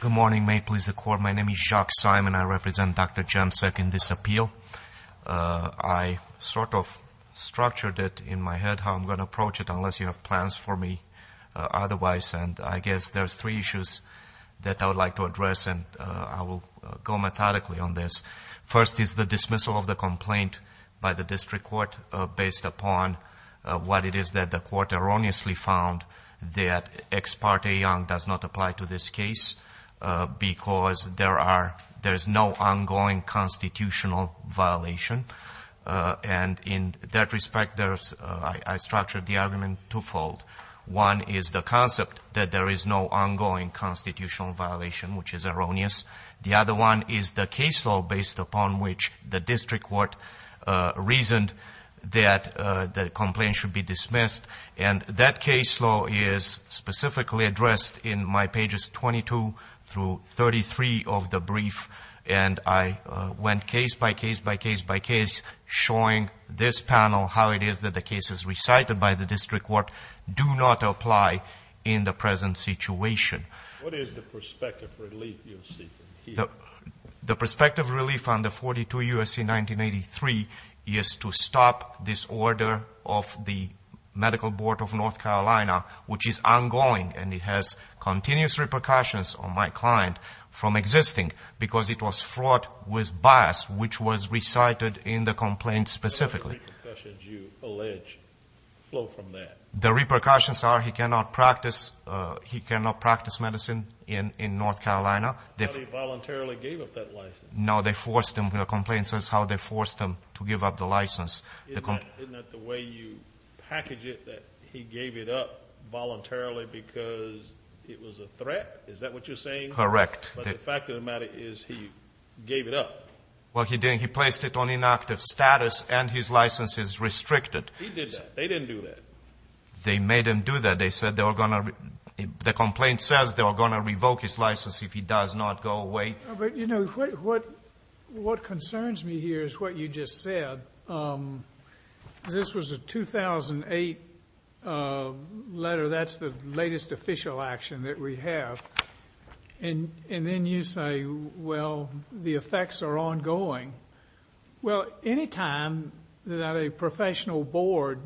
Good morning. May it please the Court, my name is Jacques Simon. I represent Dr. Jemsek in this appeal. I sort of structured it in my head how I'm going to approach it unless you have plans for me otherwise. And I guess there's three issues that I would like to address and I will go methodically on this. First is the dismissal of the complaint by it is that the Court erroneously found that Ex parte Young does not apply to this case because there is no ongoing constitutional violation. And in that respect I structured the argument twofold. One is the concept that there is no ongoing constitutional violation which is erroneous. The other one is the case law based upon which the district court reasoned that the complaint should be dismissed. And that case law is specifically addressed in my pages 22 through 33 of the brief. And I went case by case by case by case showing this panel how it is that the cases recited by the district court do not apply in the present situation. The perspective relief on the 42 U.S.C. 1983 is to stop this order of the Medical Board of North Carolina which is ongoing and it has continuous repercussions on my client from existing because it was fraught with bias which was recited in the complaint specifically. What are the repercussions you allege flow from that? The repercussions are he cannot practice, he cannot practice medicine in North Carolina. How did he voluntarily give up that license? No they forced him, the complaint says how they forced him to give up the license. Isn't that the way you package it that he gave it up voluntarily because it was a threat? Is that what you're saying? Correct. But the fact of the matter is he gave it up. Well he didn't, he placed it on inactive status and his license is restricted. He did that, they didn't do that. They made him do that. They said they were going to, the complaint says they were going to revoke his license if he does not go away. But you know what concerns me here is what you just said. This was a 2008 letter, that's the latest official action that we have. And then you say well the effects are ongoing. Well any time that a professional board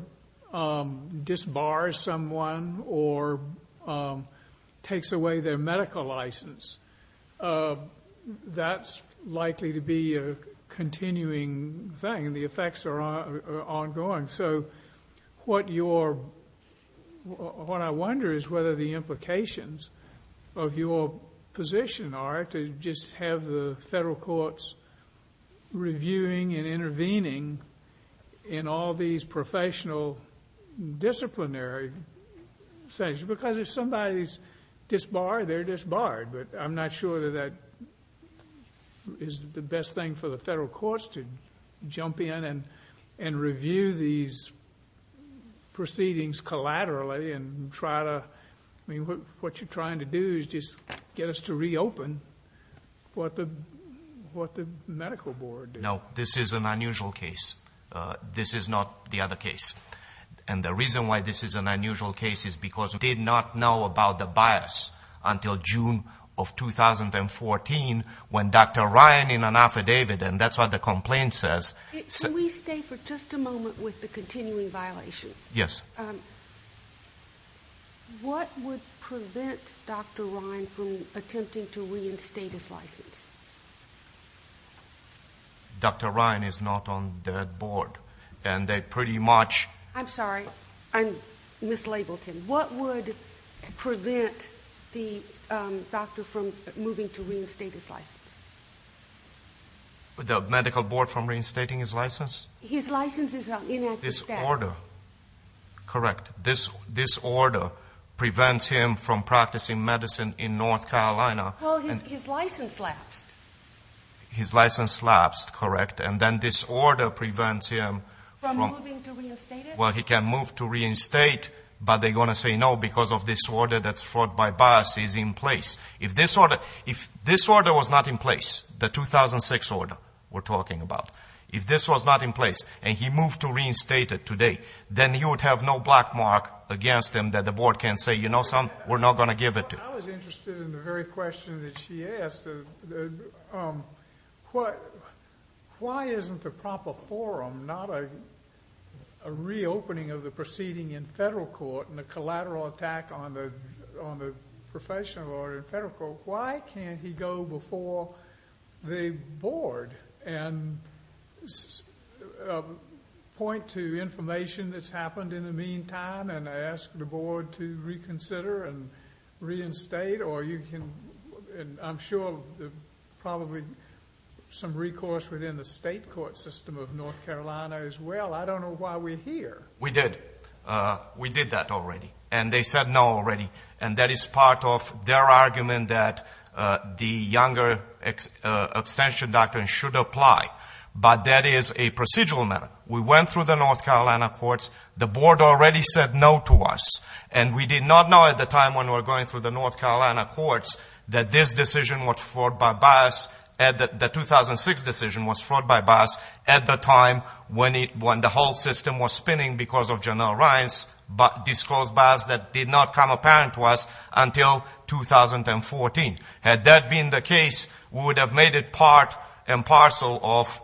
disbars someone or takes away their medical license that's likely to be a continuing thing. The effects are ongoing. So what your, what I wonder is whether the implications of your position are to just have the federal courts reviewing and intervening in all these professional disciplinary sessions. Because if somebody's disbarred, they're disbarred, but I'm not sure that that is the best thing for the federal courts to jump in and review these proceedings collaterally and try to, I mean what you're trying to do is just get us to reopen what the medical board did. No, this is an unusual case. This is not the other case. And the reason why this is an unusual case is because we did not know about the bias until June of 2014 when Dr. Ryan in an affidavit, and that's what the complaint says. Can we stay for just a moment with the continuing violation? Yes. What would prevent Dr. Ryan from attempting to reinstate his license? Dr. Ryan is not on that board. And they pretty much I'm sorry, I mislabeled him. What would prevent the doctor from moving to reinstate his license? The medical board from reinstating his license? His license is inactive status. Disorder. Correct. Disorder prevents him from practicing medicine in North Carolina. Well, his license lapsed. His license lapsed, correct. And then disorder prevents him from Moving to reinstate it? Well, he can move to reinstate, but they're going to say no because of this order that's fraught by bias is in place. If this order was not in place, the 2006 order we're talking about, if this was not in place and he moved to reinstate it today, then he would have no black mark against him that the board can say, you know something, we're not going to give it to you. I was interested in the very question that she asked. Why isn't the proper forum not a reopening of the proceeding in federal court and a collateral attack on the professional order in federal court? Why can't he go before the board and point to information that's happened in the meantime and ask the board to reconsider and reinstate? Or you can, I'm sure, probably some recourse within the state court system of North Carolina as well. I don't know why we're here. We did. We did that already. And they said no already. And that is part of their argument that the younger abstention doctrine should apply. But that is a procedural matter. We went through the North Carolina courts. The board already said no to us. And we did not know at the time when we were going through the North Carolina courts that this decision was fraught by bias, that the 2006 decision was fraught by bias at the time when the whole system was spinning because of Janelle Ryan's disclosed bias that did not come apparent to us until 2014. Had that been the case, we would have made it part and parcel of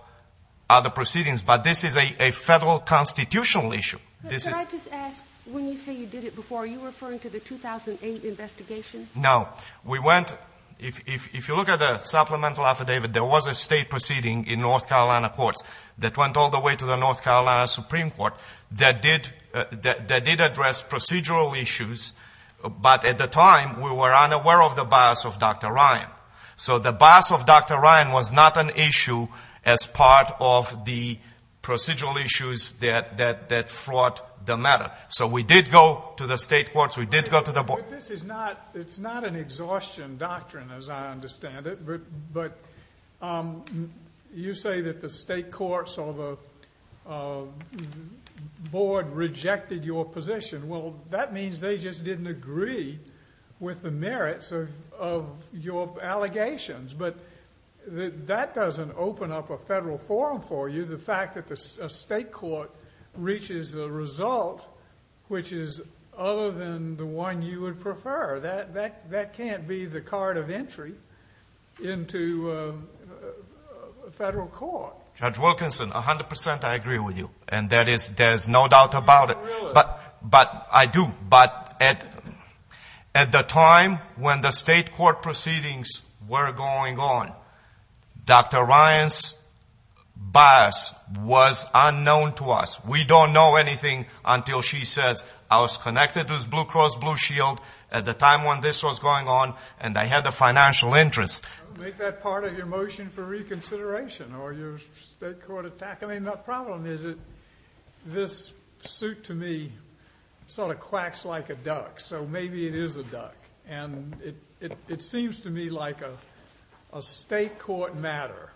other proceedings. But this is a federal constitutional issue. Can I just ask, when you say you did it before, are you referring to the 2008 investigation? No. We went, if you look at the supplemental affidavit, there was a state proceeding in North Carolina courts that went all the way to the North Carolina Supreme Court that did address procedural issues. But at the time, we were unaware of the bias of Dr. Ryan. So the bias of Dr. Ryan was not an issue as part of the procedural issues that fraught with the matter. So we did go to the state courts. We did go to the board. But this is not, it's not an exhaustion doctrine as I understand it. But you say that the state courts or the board rejected your position. Well, that means they just didn't agree with the merits of your allegations. But that doesn't open up a federal forum for you, the fact that the state court reaches the result, which is other than the one you would prefer. That can't be the card of entry into a federal court. Judge Wilkinson, 100 percent I agree with you. And that is, there's no doubt about it. But I do. But at the time when the state court proceedings were going on, Dr. Ryan's bias was unknown to us. We don't know anything until she says, I was connected to this Blue Cross Blue Shield at the time when this was going on and I had a financial interest. Don't make that part of your motion for reconsideration or your state court attack. I mean, the problem is that this suit to me sort of quacks like a duck. So maybe it is a duck. And it seems to me like a state court matter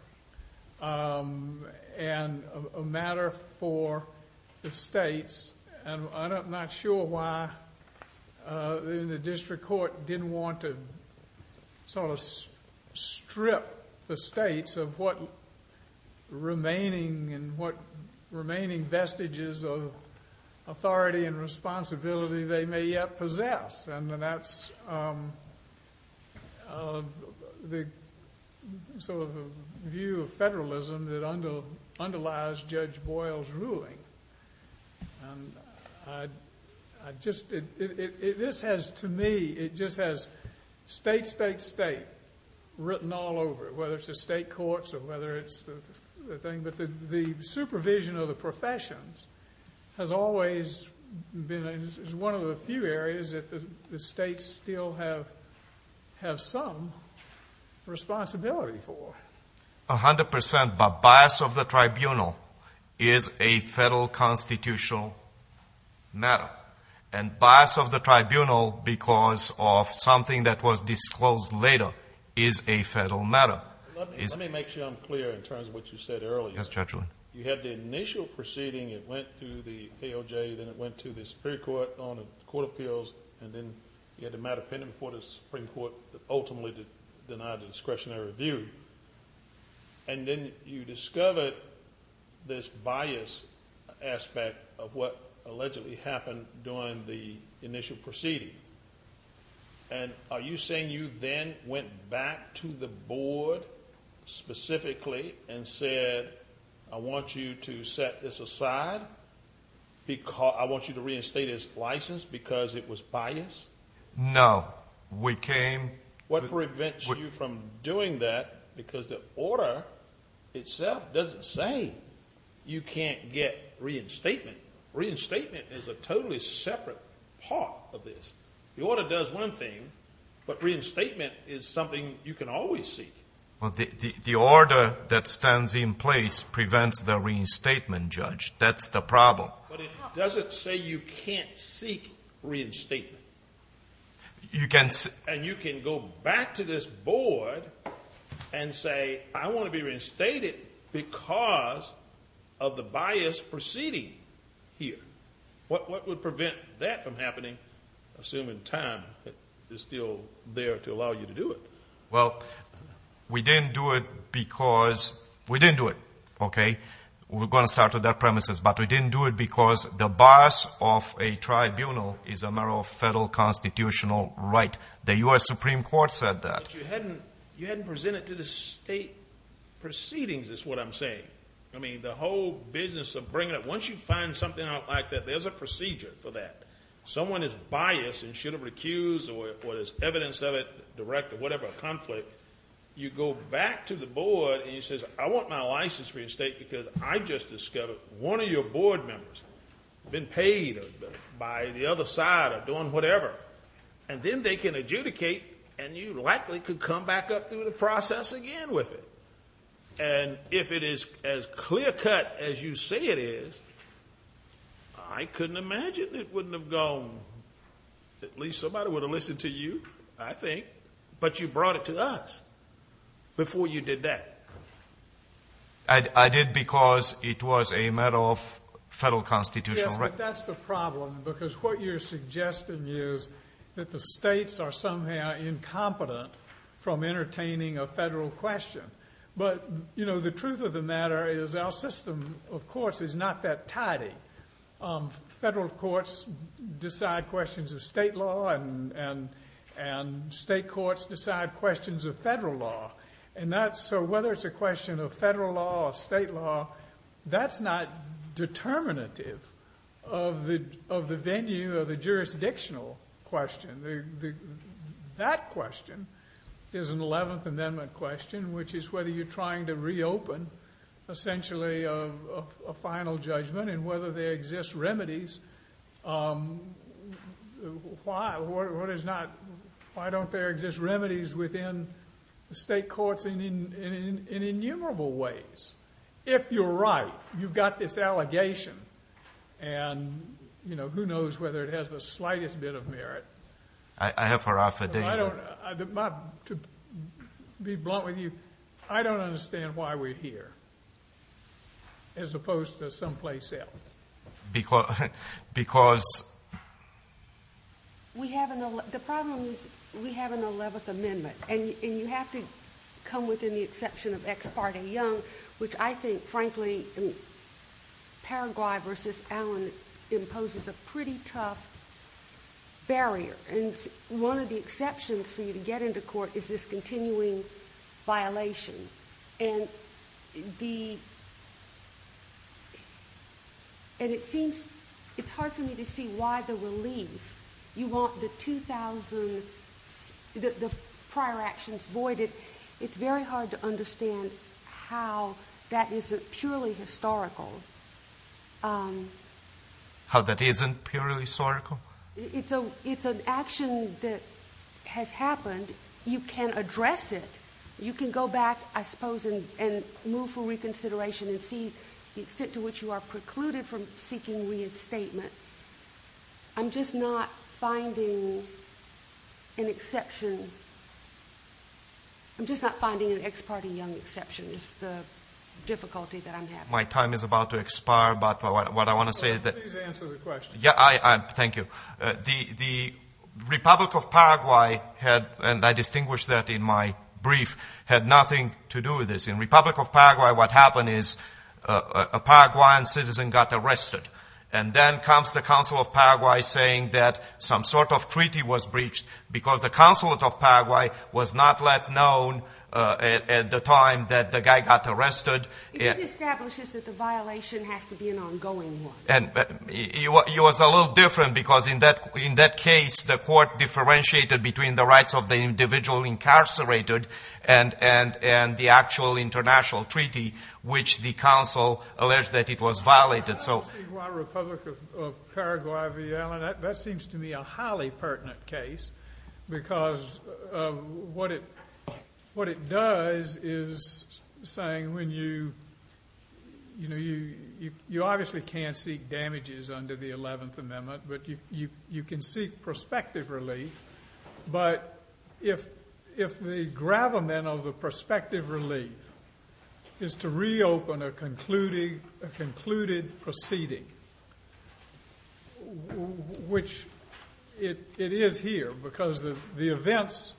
and a matter for the states. And I'm not sure why the district court didn't want to sort of strip the states of what remaining vestiges of authority and the sort of view of federalism that underlies Judge Boyle's ruling. This has to me, it just has state, state, state written all over it, whether it's the state courts or whether it's the thing. But the supervision of the professions has always been, is one of the few areas that the states still have, have some responsibility for. A hundred percent. But bias of the tribunal is a federal constitutional matter. And bias of the tribunal because of something that was disclosed later is a federal matter. Let me make sure I'm clear in terms of what you said earlier. Yes, Judge Lee. You had the initial proceeding, it went to the AOJ, then it went to the Supreme Court on a court of appeals, and then you had a matter pending before the Supreme Court that ultimately denied the discretionary review. And then you discovered this bias aspect of what allegedly happened during the initial proceeding. And are you saying you then went back to the board specifically and said, I want you to set this aside? I want you to reinstate his license because it was biased? No. We came... What prevents you from doing that? Because the order itself doesn't say you can't get reinstatement. Reinstatement is a totally separate part of this. The order does one thing you can always seek. The order that stands in place prevents the reinstatement, Judge. That's the problem. But it doesn't say you can't seek reinstatement. And you can go back to this board and say, I want to be reinstated because of the bias proceeding here. What would prevent that from happening, assuming time is still there to allow you to do it? Well, we didn't do it because... We didn't do it, okay? We're going to start with that premises. But we didn't do it because the bias of a tribunal is a matter of federal constitutional right. The U.S. Supreme Court said that. But you hadn't presented to the state proceedings is what I'm saying. I mean, the whole business of bringing up... Once you find something out like that, there's a procedure for that. Someone is biased and should have recused or there's evidence of it, direct or whatever conflict, you go back to the board and you say, I want my license reinstated because I just discovered one of your board members been paid by the other side of doing whatever. And then they can adjudicate and you likely could come back up through the process again with it. And if it is as clear cut as you say it is, I couldn't imagine it wouldn't have gone. At least somebody would have listened to you, I think. But you brought it to us before you did that. I did because it was a matter of federal constitutional right. Yes, but that's the problem because what you're suggesting is that the states are somehow incompetent from entertaining a federal question. But the truth of the matter is our system of course is not that tidy. Federal courts decide questions of state law and state courts decide questions of federal law. So whether it's a question of federal law or state law, that's not determinative of the venue of the jurisdictional question. That's a question of federal law. That question is an 11th Amendment question, which is whether you're trying to reopen essentially a final judgment and whether there exist remedies. Why don't there exist remedies within the state courts in innumerable ways? If you're right, you've got this allegation and who knows whether it has the slightest bit of merit. I have her affidavit. To be blunt with you, I don't understand why we're here as opposed to someplace else. Because The problem is we have an 11th Amendment and you have to come within the exception of Ex Parte Young, which I think frankly Paraguay v. Allen imposes a pretty tough barrier to get into court. One of the exceptions for you to get into court is this continuing violation. It's hard for me to see why the relief. You want the prior actions voided. It's very hard to understand how that isn't purely historical. How that isn't purely historical? It's an action that has happened. You can address it. You can go back, I suppose, and move for reconsideration and see the extent to which you are precluded from seeking reinstatement. I'm just not finding an exception. I'm just not finding an Ex Parte Young exception is the difficulty that I'm having. My time is about to expire, but what I want to say is that Please answer the question. Thank you. The Republic of Paraguay had, and I distinguished that in my brief, had nothing to do with this. In Republic of Paraguay what happened is a Paraguayan citizen got arrested. And then comes the Council of Paraguay saying that some sort of treaty was breached because the Council of Paraguay was not let known at the time that the guy got arrested. It establishes that the violation has to be an ongoing one. It was a little different because in that case the court differentiated between the rights of the individual incarcerated and the actual international treaty which the Council alleged that it was violated. I don't see why Republic of Paraguay v. Allen, that seems to me a highly pertinent case because what it does is saying when you, you know, you obviously can't seek reinstatement. You can't seek damages under the 11th Amendment, but you can seek prospective relief. But if the gravamen of the prospective relief is to reopen a concluded proceeding, which it is here because the events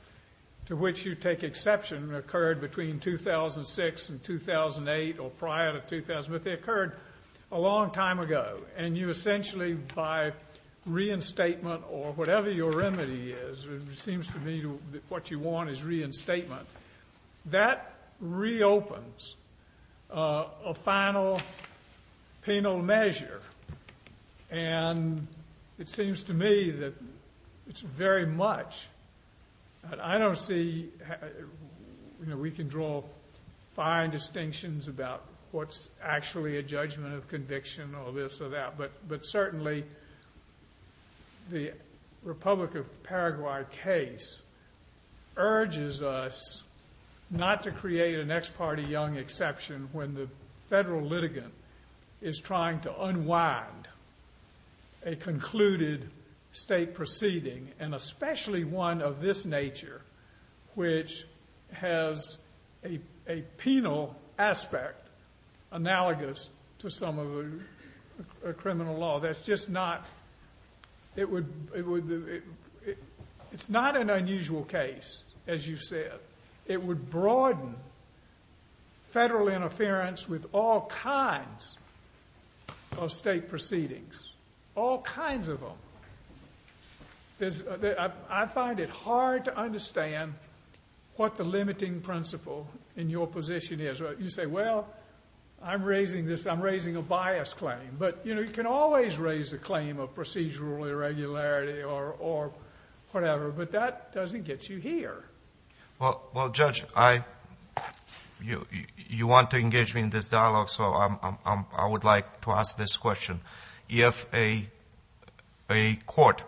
to which you take exception occurred between 2006 and 2008 or prior to 2000, but they occurred a long time ago. And you essentially by reinstatement or whatever your remedy is, it seems to me what you want is reinstatement, that reopens a final penal measure. And it seems to me that it's very much, I don't see, you know, we can draw fine distinctions about what's actually a judgment of conviction or this or that, but certainly the Republic of Paraguay case urges us not to create an ex parte young exception when the federal litigant is trying to unwind a concluded state proceeding and especially one of this nature which has a penal aspect analogous to some of the criminal law. That's just not, it would, it's not an unusual case, as you said. It would broaden federal interference with all kinds of state proceedings, all kinds of them. So, I find it hard to understand what the limiting principle in your position is. You say, well, I'm raising this, I'm raising a bias claim, but, you know, you can always raise a claim of procedural irregularity or whatever, but that doesn't get you here. Well Judge, you want to engage me in this dialogue, so I would like to ask this question. If a court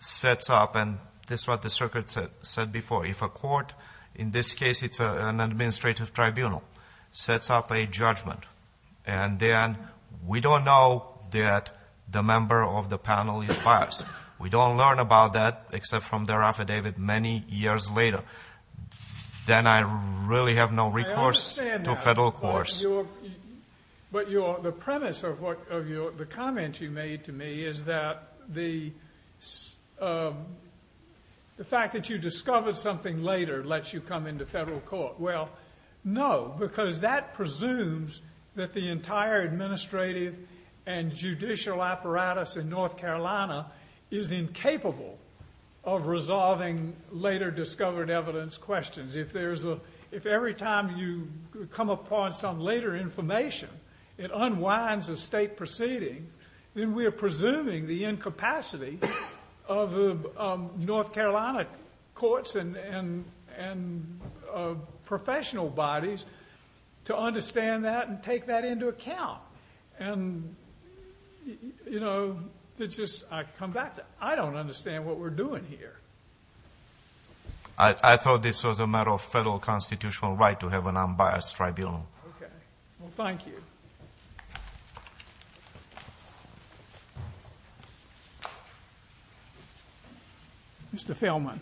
sets up, and this is what the circuit said before, if a court, in this case it's an administrative tribunal, sets up a judgment and then we don't know that the member of the panel is biased, we don't learn about that except from their affidavit many years later, then I really have no recourse to federal courts. But the premise of the comment you made to me is that the fact that you discovered something later lets you come into federal court. Well, no, because that presumes that the entire administrative and judicial apparatus in North Carolina is incapable of resolving later information. It unwinds the state proceedings, and we are presuming the incapacity of the North Carolina courts and professional bodies to understand that and take that into account. And, you know, it's just, I come back to, I don't understand what we're doing here. I thought this was a matter of federal constitutional right to have an unbiased tribunal. Okay. Well, thank you. Mr. Feldman.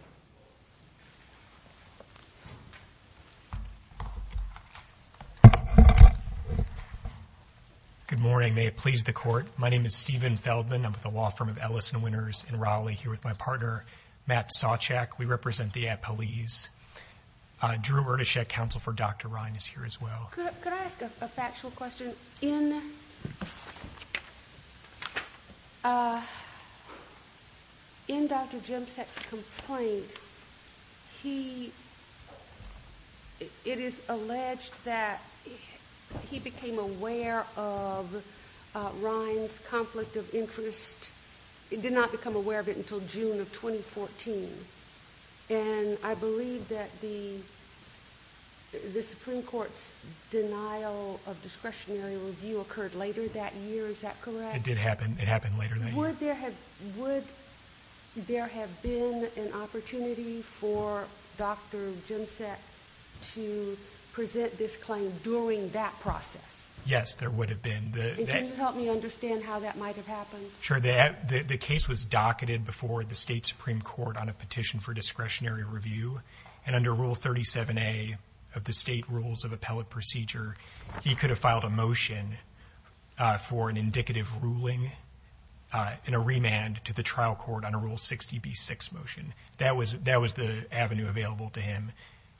Good morning. May it please the Court. My name is Stephen Feldman. I'm with the law center. Matt Sawcheck, we represent the Appalese. Drew Erdeshek, counsel for Dr. Ryan, is here as well. Could I ask a factual question? In Dr. Jemsek's complaint, it is alleged that he became aware of Ryan's conflict of interest. He did not become aware of it until June of 2014. And I believe that the Supreme Court's denial of discretionary review occurred later that year. Is that correct? It did happen. It happened later that year. Would there have been an opportunity for Dr. Jemsek to present this claim during that process? Yes, there would have been. And can you help me understand how that might have happened? Sure. The case was docketed before the state Supreme Court on a petition for discretionary review. And under Rule 37A of the State Rules of Appellate Procedure, he could have filed a motion for an indicative ruling and a remand to the trial court on a Rule 60B6 motion. That was the avenue available to him.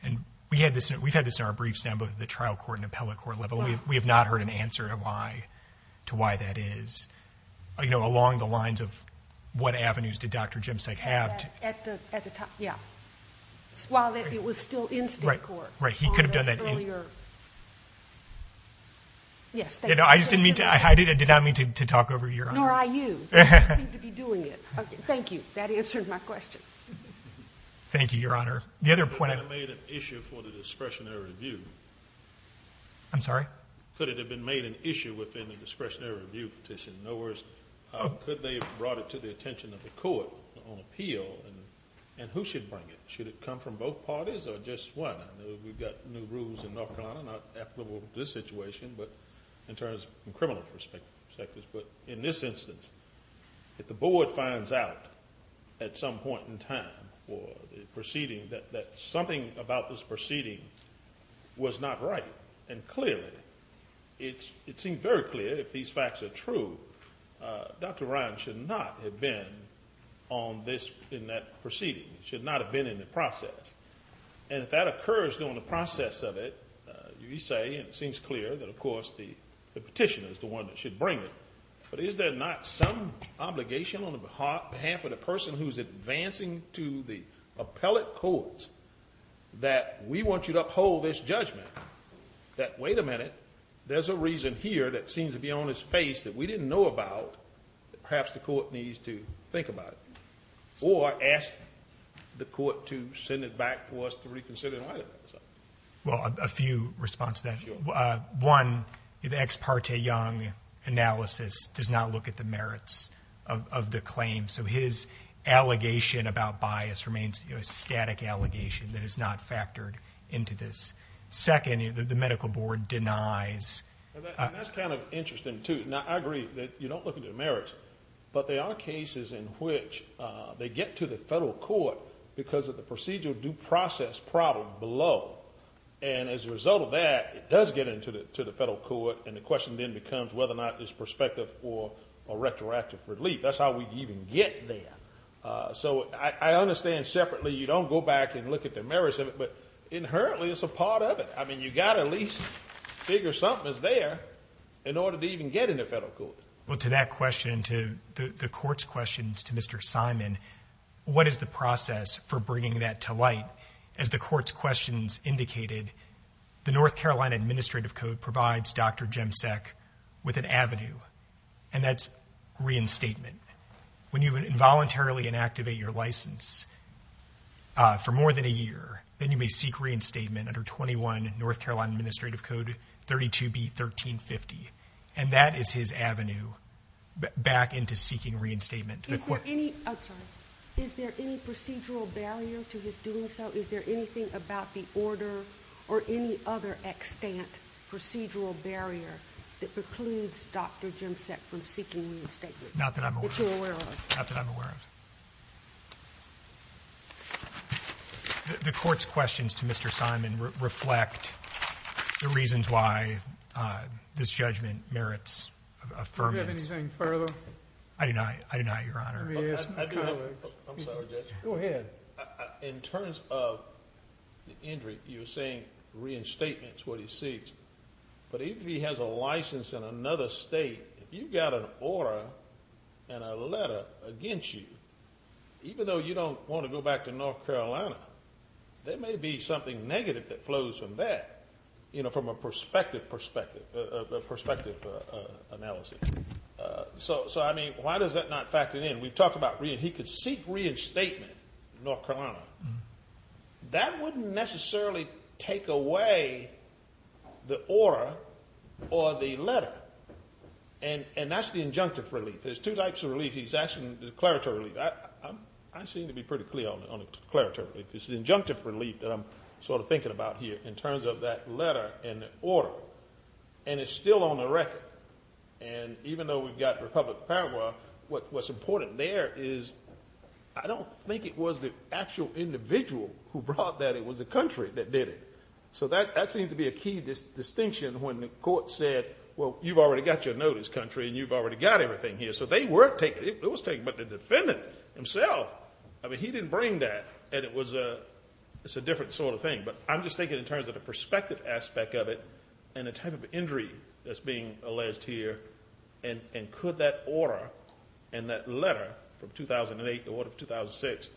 And we had this, we've had this in our briefs on both the trial court and appellate court level. We have not heard an answer to why that is. You know, along the lines of what avenues did Dr. Jemsek have to... At the time, yeah. While it was still in state court. Right, right. He could have done that earlier. Yes, thank you. I just didn't mean to, I did not mean to talk over your honor. Nor I you. You seem to be doing it. Okay, thank you. That answered my question. Thank you, Your Honor. The other point... Could it have been made an issue for the discretionary review? I'm sorry? Could it have been made an issue within the discretionary review petition? No worries. Could they have brought it to the attention of the court on appeal? And who should bring it? Should it come from both parties or just one? I know we've got new rules in North Carolina, not applicable to this situation, but in terms of criminal perspectives. But in this instance, if the board finds out at some point in time or the proceeding that something about this proceeding was not right, and clearly, it seems very clear if these facts are true, Dr. Ryan should not have been on this, in that proceeding, should not have been in the process. And if that occurs during the process of it, you say, it seems clear that of course the petitioner is the one that should bring it. But is there not some obligation on behalf of the person who's advancing to the appellate courts that we want you to uphold this judgment that, wait a minute, there's a reason here that seems to be on his face that we didn't know about, perhaps the court needs to think about it. Or ask the court to send it back for us to reconsider and write about it. Well, a few responses to that. One, the ex parte Young analysis does not look at the merits of the claim. So his allegation about bias remains a static allegation that is not factored into this. Second, the medical board denies. And that's kind of interesting, too. Now, I agree that you don't look at the merits, but there are cases in which they get to the federal court because of the procedural due law. And as a result of that, it does get into the federal court, and the question then becomes whether or not there's perspective or retroactive relief. That's how we even get there. So I understand separately you don't go back and look at the merits of it, but inherently it's a part of it. I mean, you've got to at least figure something's there in order to even get in the federal court. Well, to that question, to the court's questions to Mr. Simon, what is the process for bringing that to light? As the court's questions indicated, the North Carolina Administrative Code provides Dr. Jemsek with an avenue, and that's reinstatement. When you involuntarily inactivate your license for more than a year, then you may seek reinstatement under 21 North Carolina Administrative Code 32B1350. And that is his avenue back into seeking reinstatement. Is there any procedural barrier to his doing so? Is there anything about the order or any other extant procedural barrier that precludes Dr. Jemsek from seeking reinstatement? Not that I'm aware of. That you're aware of? Not that I'm aware of. The court's questions to Mr. Simon reflect the reasons why this judgment merits affirmance. Do you have anything further? I do not, Your Honor. Go ahead. In terms of the injury, you're saying reinstatement is what he seeks. But if he has a license in another state, if you've got an order and a letter against you, even though you don't want to go back to North Carolina, there may be something negative that flows from that, you know, from a perspective analysis. So, I mean, why does that not factor in? We've talked about he could seek reinstatement in North Carolina. That wouldn't necessarily take away the order or the letter. And that's the injunctive relief. There's two types of relief. There's declaratory relief. I seem to be pretty clear on declaratory relief. There's injunctive relief that I'm sort of thinking about here in terms of that letter and the order. And it's still on the record. And even though we've got Republic of Paraguay, what's important there is I don't think it was the actual individual who brought that. It was the country that did it. So that seems to be a key distinction when the court said, well, you've already got your notice, country, and you've already got everything here. So it was taken by the defendant himself. I mean, he didn't bring that. And it's a different sort of thing. But I'm just thinking in terms of the perspective aspect of it and the type of injury that's being alleged here. And could that order and that letter from 2008, the order of 2006,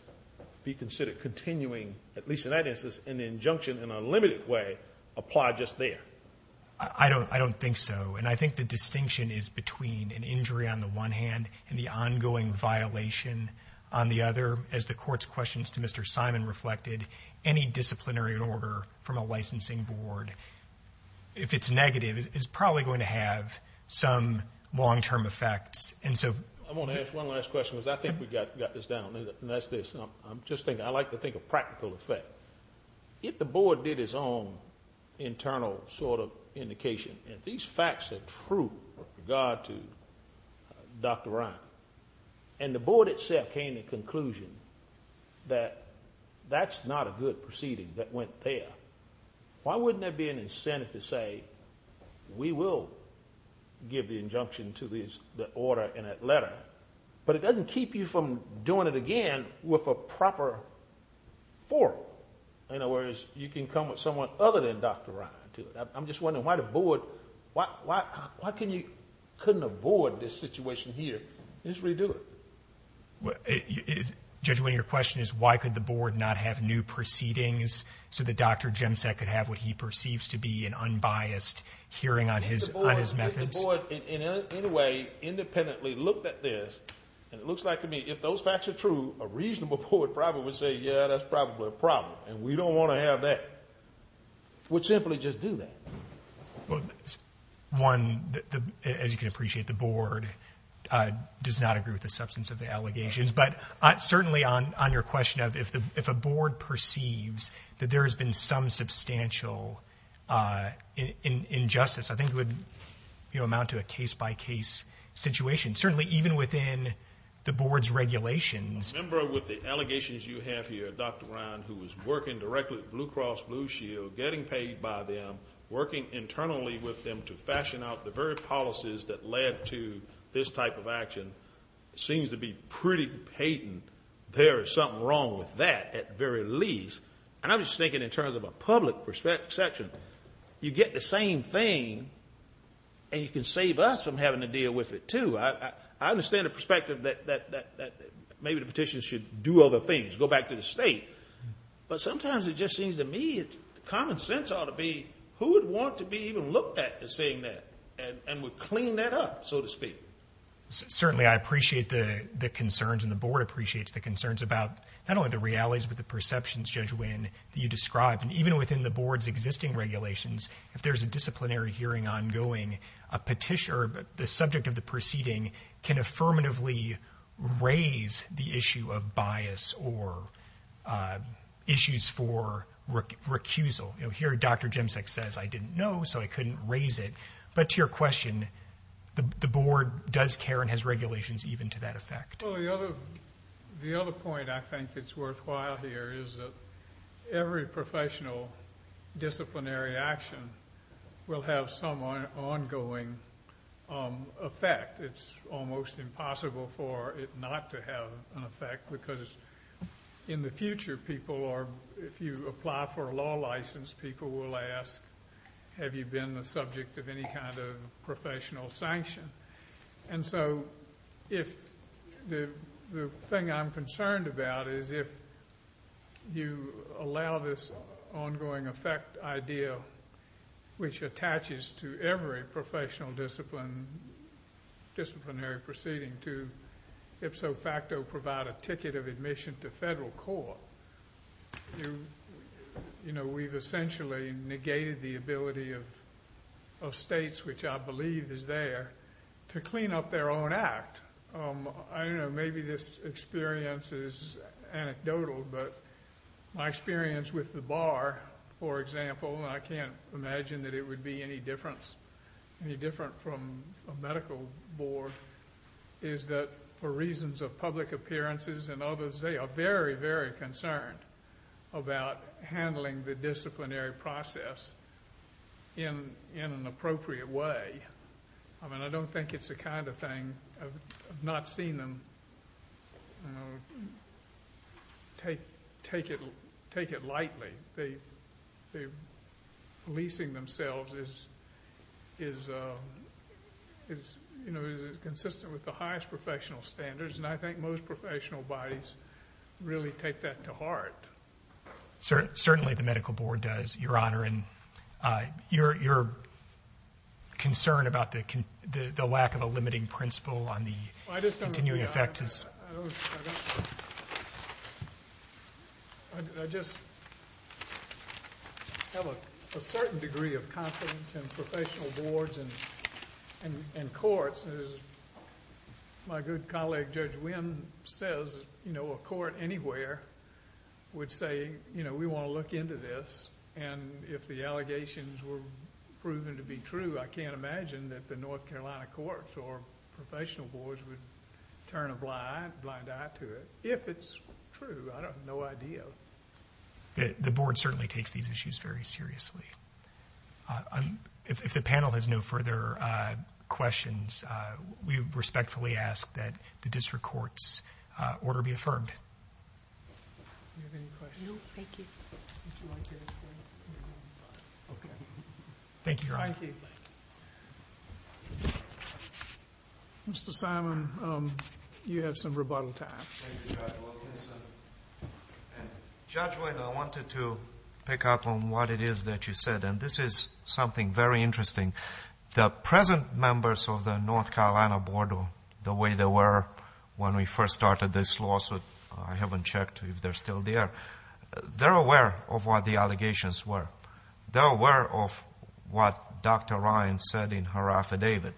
be considered continuing, at least in that instance, in the injunction in a limited way, apply just there? I don't think so. And I think the distinction is between an injury on the one hand and the ongoing violation on the other. As the court's questions to Mr. Simon reflected, any disciplinary order from a licensing board, if it's negative, is probably going to have some long-term effects. And so I want to ask one last question because I think we got this down. And that's this. And I like to think of practical effect. If the board did its own internal sort of indication, and these facts are true with regard to Dr. Ryan, and the board itself came to the conclusion that that's not a good proceeding that went there, why wouldn't there be an incentive to say, we will give the injunction to the order and that letter? But it doesn't keep you from doing it again with a proper forum. Whereas you can come with someone other than Dr. Ryan to do it. I'm just wondering why the board, why couldn't a board this situation here just redo it? Judge Wynne, your question is, why could the board not have new proceedings so that Dr. Jemsek could have what he perceives to be an unbiased hearing on his methods? The board, in any way, independently looked at this. And it looks like to me, if those facts are true, a reasonable board probably would say, yeah, that's probably a problem. And we don't want to have that. We'll simply just do that. Well, one, as you can appreciate, the board does not agree with the substance of the allegations. But certainly on your question of if a board perceives that there has been some substantial injustice, I think it would amount to a case-by-case situation, certainly even within the board's regulations. I remember with the allegations you have here, Dr. Ryan, who was working directly with Blue Cross Blue Shield, getting paid by them, working internally with them to fashion out the very policies that led to this type of action, seems to be pretty patent. There is something wrong with that, at the very least. And I'm just thinking in terms of a public section. You get the same thing, and you can save us from having to deal with it, too. I understand the perspective that maybe the petition should do other things, go back to the state. But sometimes it just seems to me common sense ought to be who would want to be even looked at as saying that and would clean that up, so to speak. Certainly, I appreciate the concerns, and the board appreciates the concerns about not only the realities, but the perceptions, Judge Winn, that you described. And even within the board's existing regulations, if there is a disciplinary hearing ongoing, a petitioner, the subject of the proceeding, can affirmatively raise the issue of bias or issues for recusal. Here, Dr. Jemcek says, I didn't know, so I couldn't raise it. But to your question, the board does care and has regulations even to that effect. Well, the other point I think that's worthwhile here is that every professional disciplinary action will have some ongoing effect. It's almost impossible for it not to have an effect because in the future, if you apply for a law license, people will ask, have you been the subject of any kind of professional sanction? And so the thing I'm concerned about is if you allow this ongoing effect idea, which attaches to every professional disciplinary proceeding, to ipso facto provide a ticket of admission to federal court, we've essentially negated the ability of states, which I believe is there, to clean up their own act. Maybe this experience is anecdotal, but my experience with the bar, for example, and I can't imagine that it would be any different from a medical board, is that for reasons of public appearances and others, they are very, very concerned about handling the disciplinary process in an appropriate way. I mean, I don't think it's the kind of thing, I've not seen them take it lightly. Leasing themselves is consistent with the highest professional standards, and I think most professional bodies really take that to heart. Certainly the medical board does, Your Honor, and your concern about the lack of a limiting principle on the continuing effect is... I just have a certain degree of confidence in professional boards and courts. As my good colleague Judge Wynn says, you know, a court anywhere would say, you know, we want to look into this, and if the allegations were proven to be true, I can't imagine that the North Carolina courts or professional boards would turn a blind eye to it, if it's true. I have no idea. The board certainly takes these issues very seriously. If the panel has no further questions, we respectfully ask that the district court's order be affirmed. Do you have any questions? No, thank you. Okay. Thank you, Your Honor. Thank you. Mr. Simon, you have some rebuttal time. Thank you, Judge Wilkinson. Judge Wynn, I wanted to pick up on what it is that you said, and this is something very interesting. The present members of the North Carolina board, or the way they were when we first started this lawsuit, I haven't checked if they're still there, they're aware of what the allegations were. They're aware of what Dr. Ryan said in her affidavit,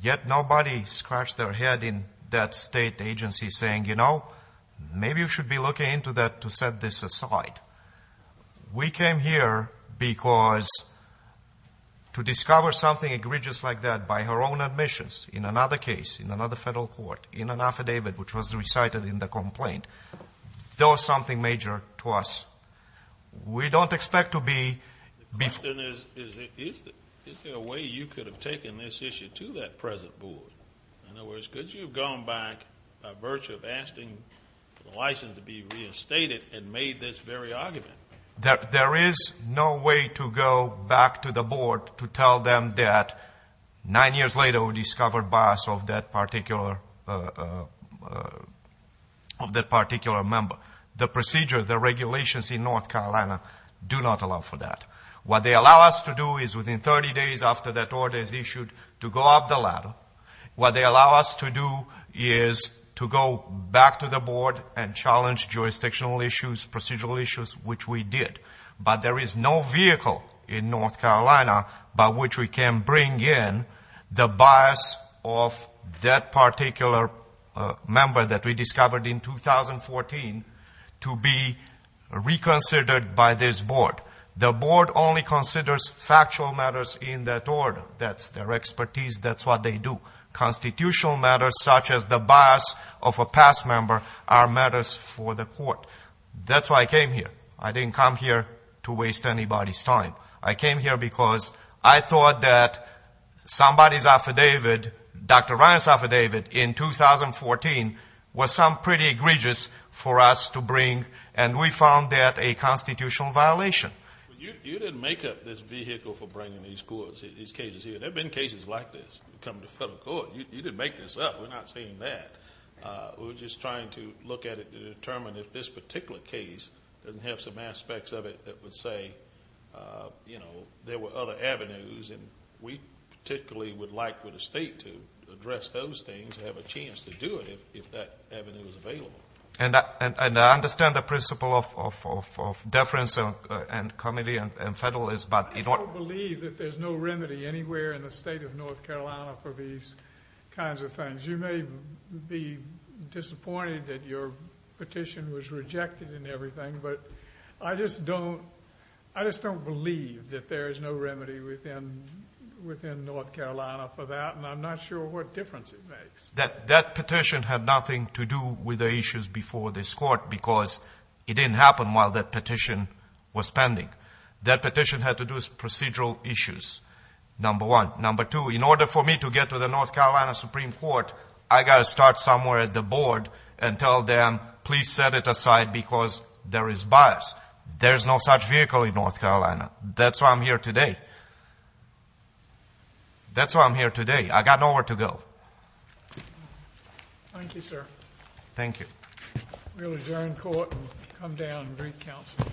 yet nobody scratched their head in that state agency saying, you know, maybe you should be looking into that to set this aside. We came here because to discover something egregious like that by her own admissions in another case, in another federal court, in an affidavit which was recited in the complaint, does something major to us. We don't expect to be... The question is, is there a way you could have taken this issue to that present board? In other words, could you have gone back by virtue of asking for the license to be reinstated and made this very argument? There is no way to go back to the board to tell them that nine years later we discovered bias of that particular member. The procedure, the regulations in North Carolina do not allow for that. What they allow us to do is within 30 days after that order is issued, to go up the ladder. What they allow us to do is to go back to the board and challenge jurisdictional issues, procedural issues, which we did. But there is no vehicle in North Carolina by which we can bring in the bias of that particular member that we discovered in 2014 to be reconsidered by this board. The board only considers factual matters in that order. That's their expertise. That's what they do. Constitutional matters such as the bias of a past member are matters for the court. That's why I came here. I didn't come here to waste anybody's time. I came here because I thought that somebody's affidavit, Dr. Ryan's affidavit in 2014, was some pretty egregious for us to bring, and we found that a constitutional violation. You didn't make up this vehicle for bringing these cases here. There have been cases like this that come to federal court. You didn't make this up. We're not saying that. We're just trying to look at it to determine if this particular case doesn't have some aspects of it that would say there were other avenues, and we particularly would like for the state to address those things and have a chance to do it if that avenue is available. I understand the principle of deference and comedy and federalism. I just don't believe that there's no remedy anywhere in the state of North Carolina for these kinds of things. You may be disappointed that your petition was rejected and everything, but I just don't believe that there is no remedy within North Carolina for that, and I'm not sure what difference it makes. That petition had nothing to do with the issues before this court because it didn't happen while that petition was pending. That petition had to do with procedural issues, number one. Number two, in order for me to get to the North Carolina Supreme Court, I've got to start somewhere at the board and tell them, please set it aside because there is bias. There is no such vehicle in North Carolina. That's why I'm here today. That's why I'm here today. I've got nowhere to go. Thank you, sir. Thank you. We'll adjourn court and come down and bring counsel.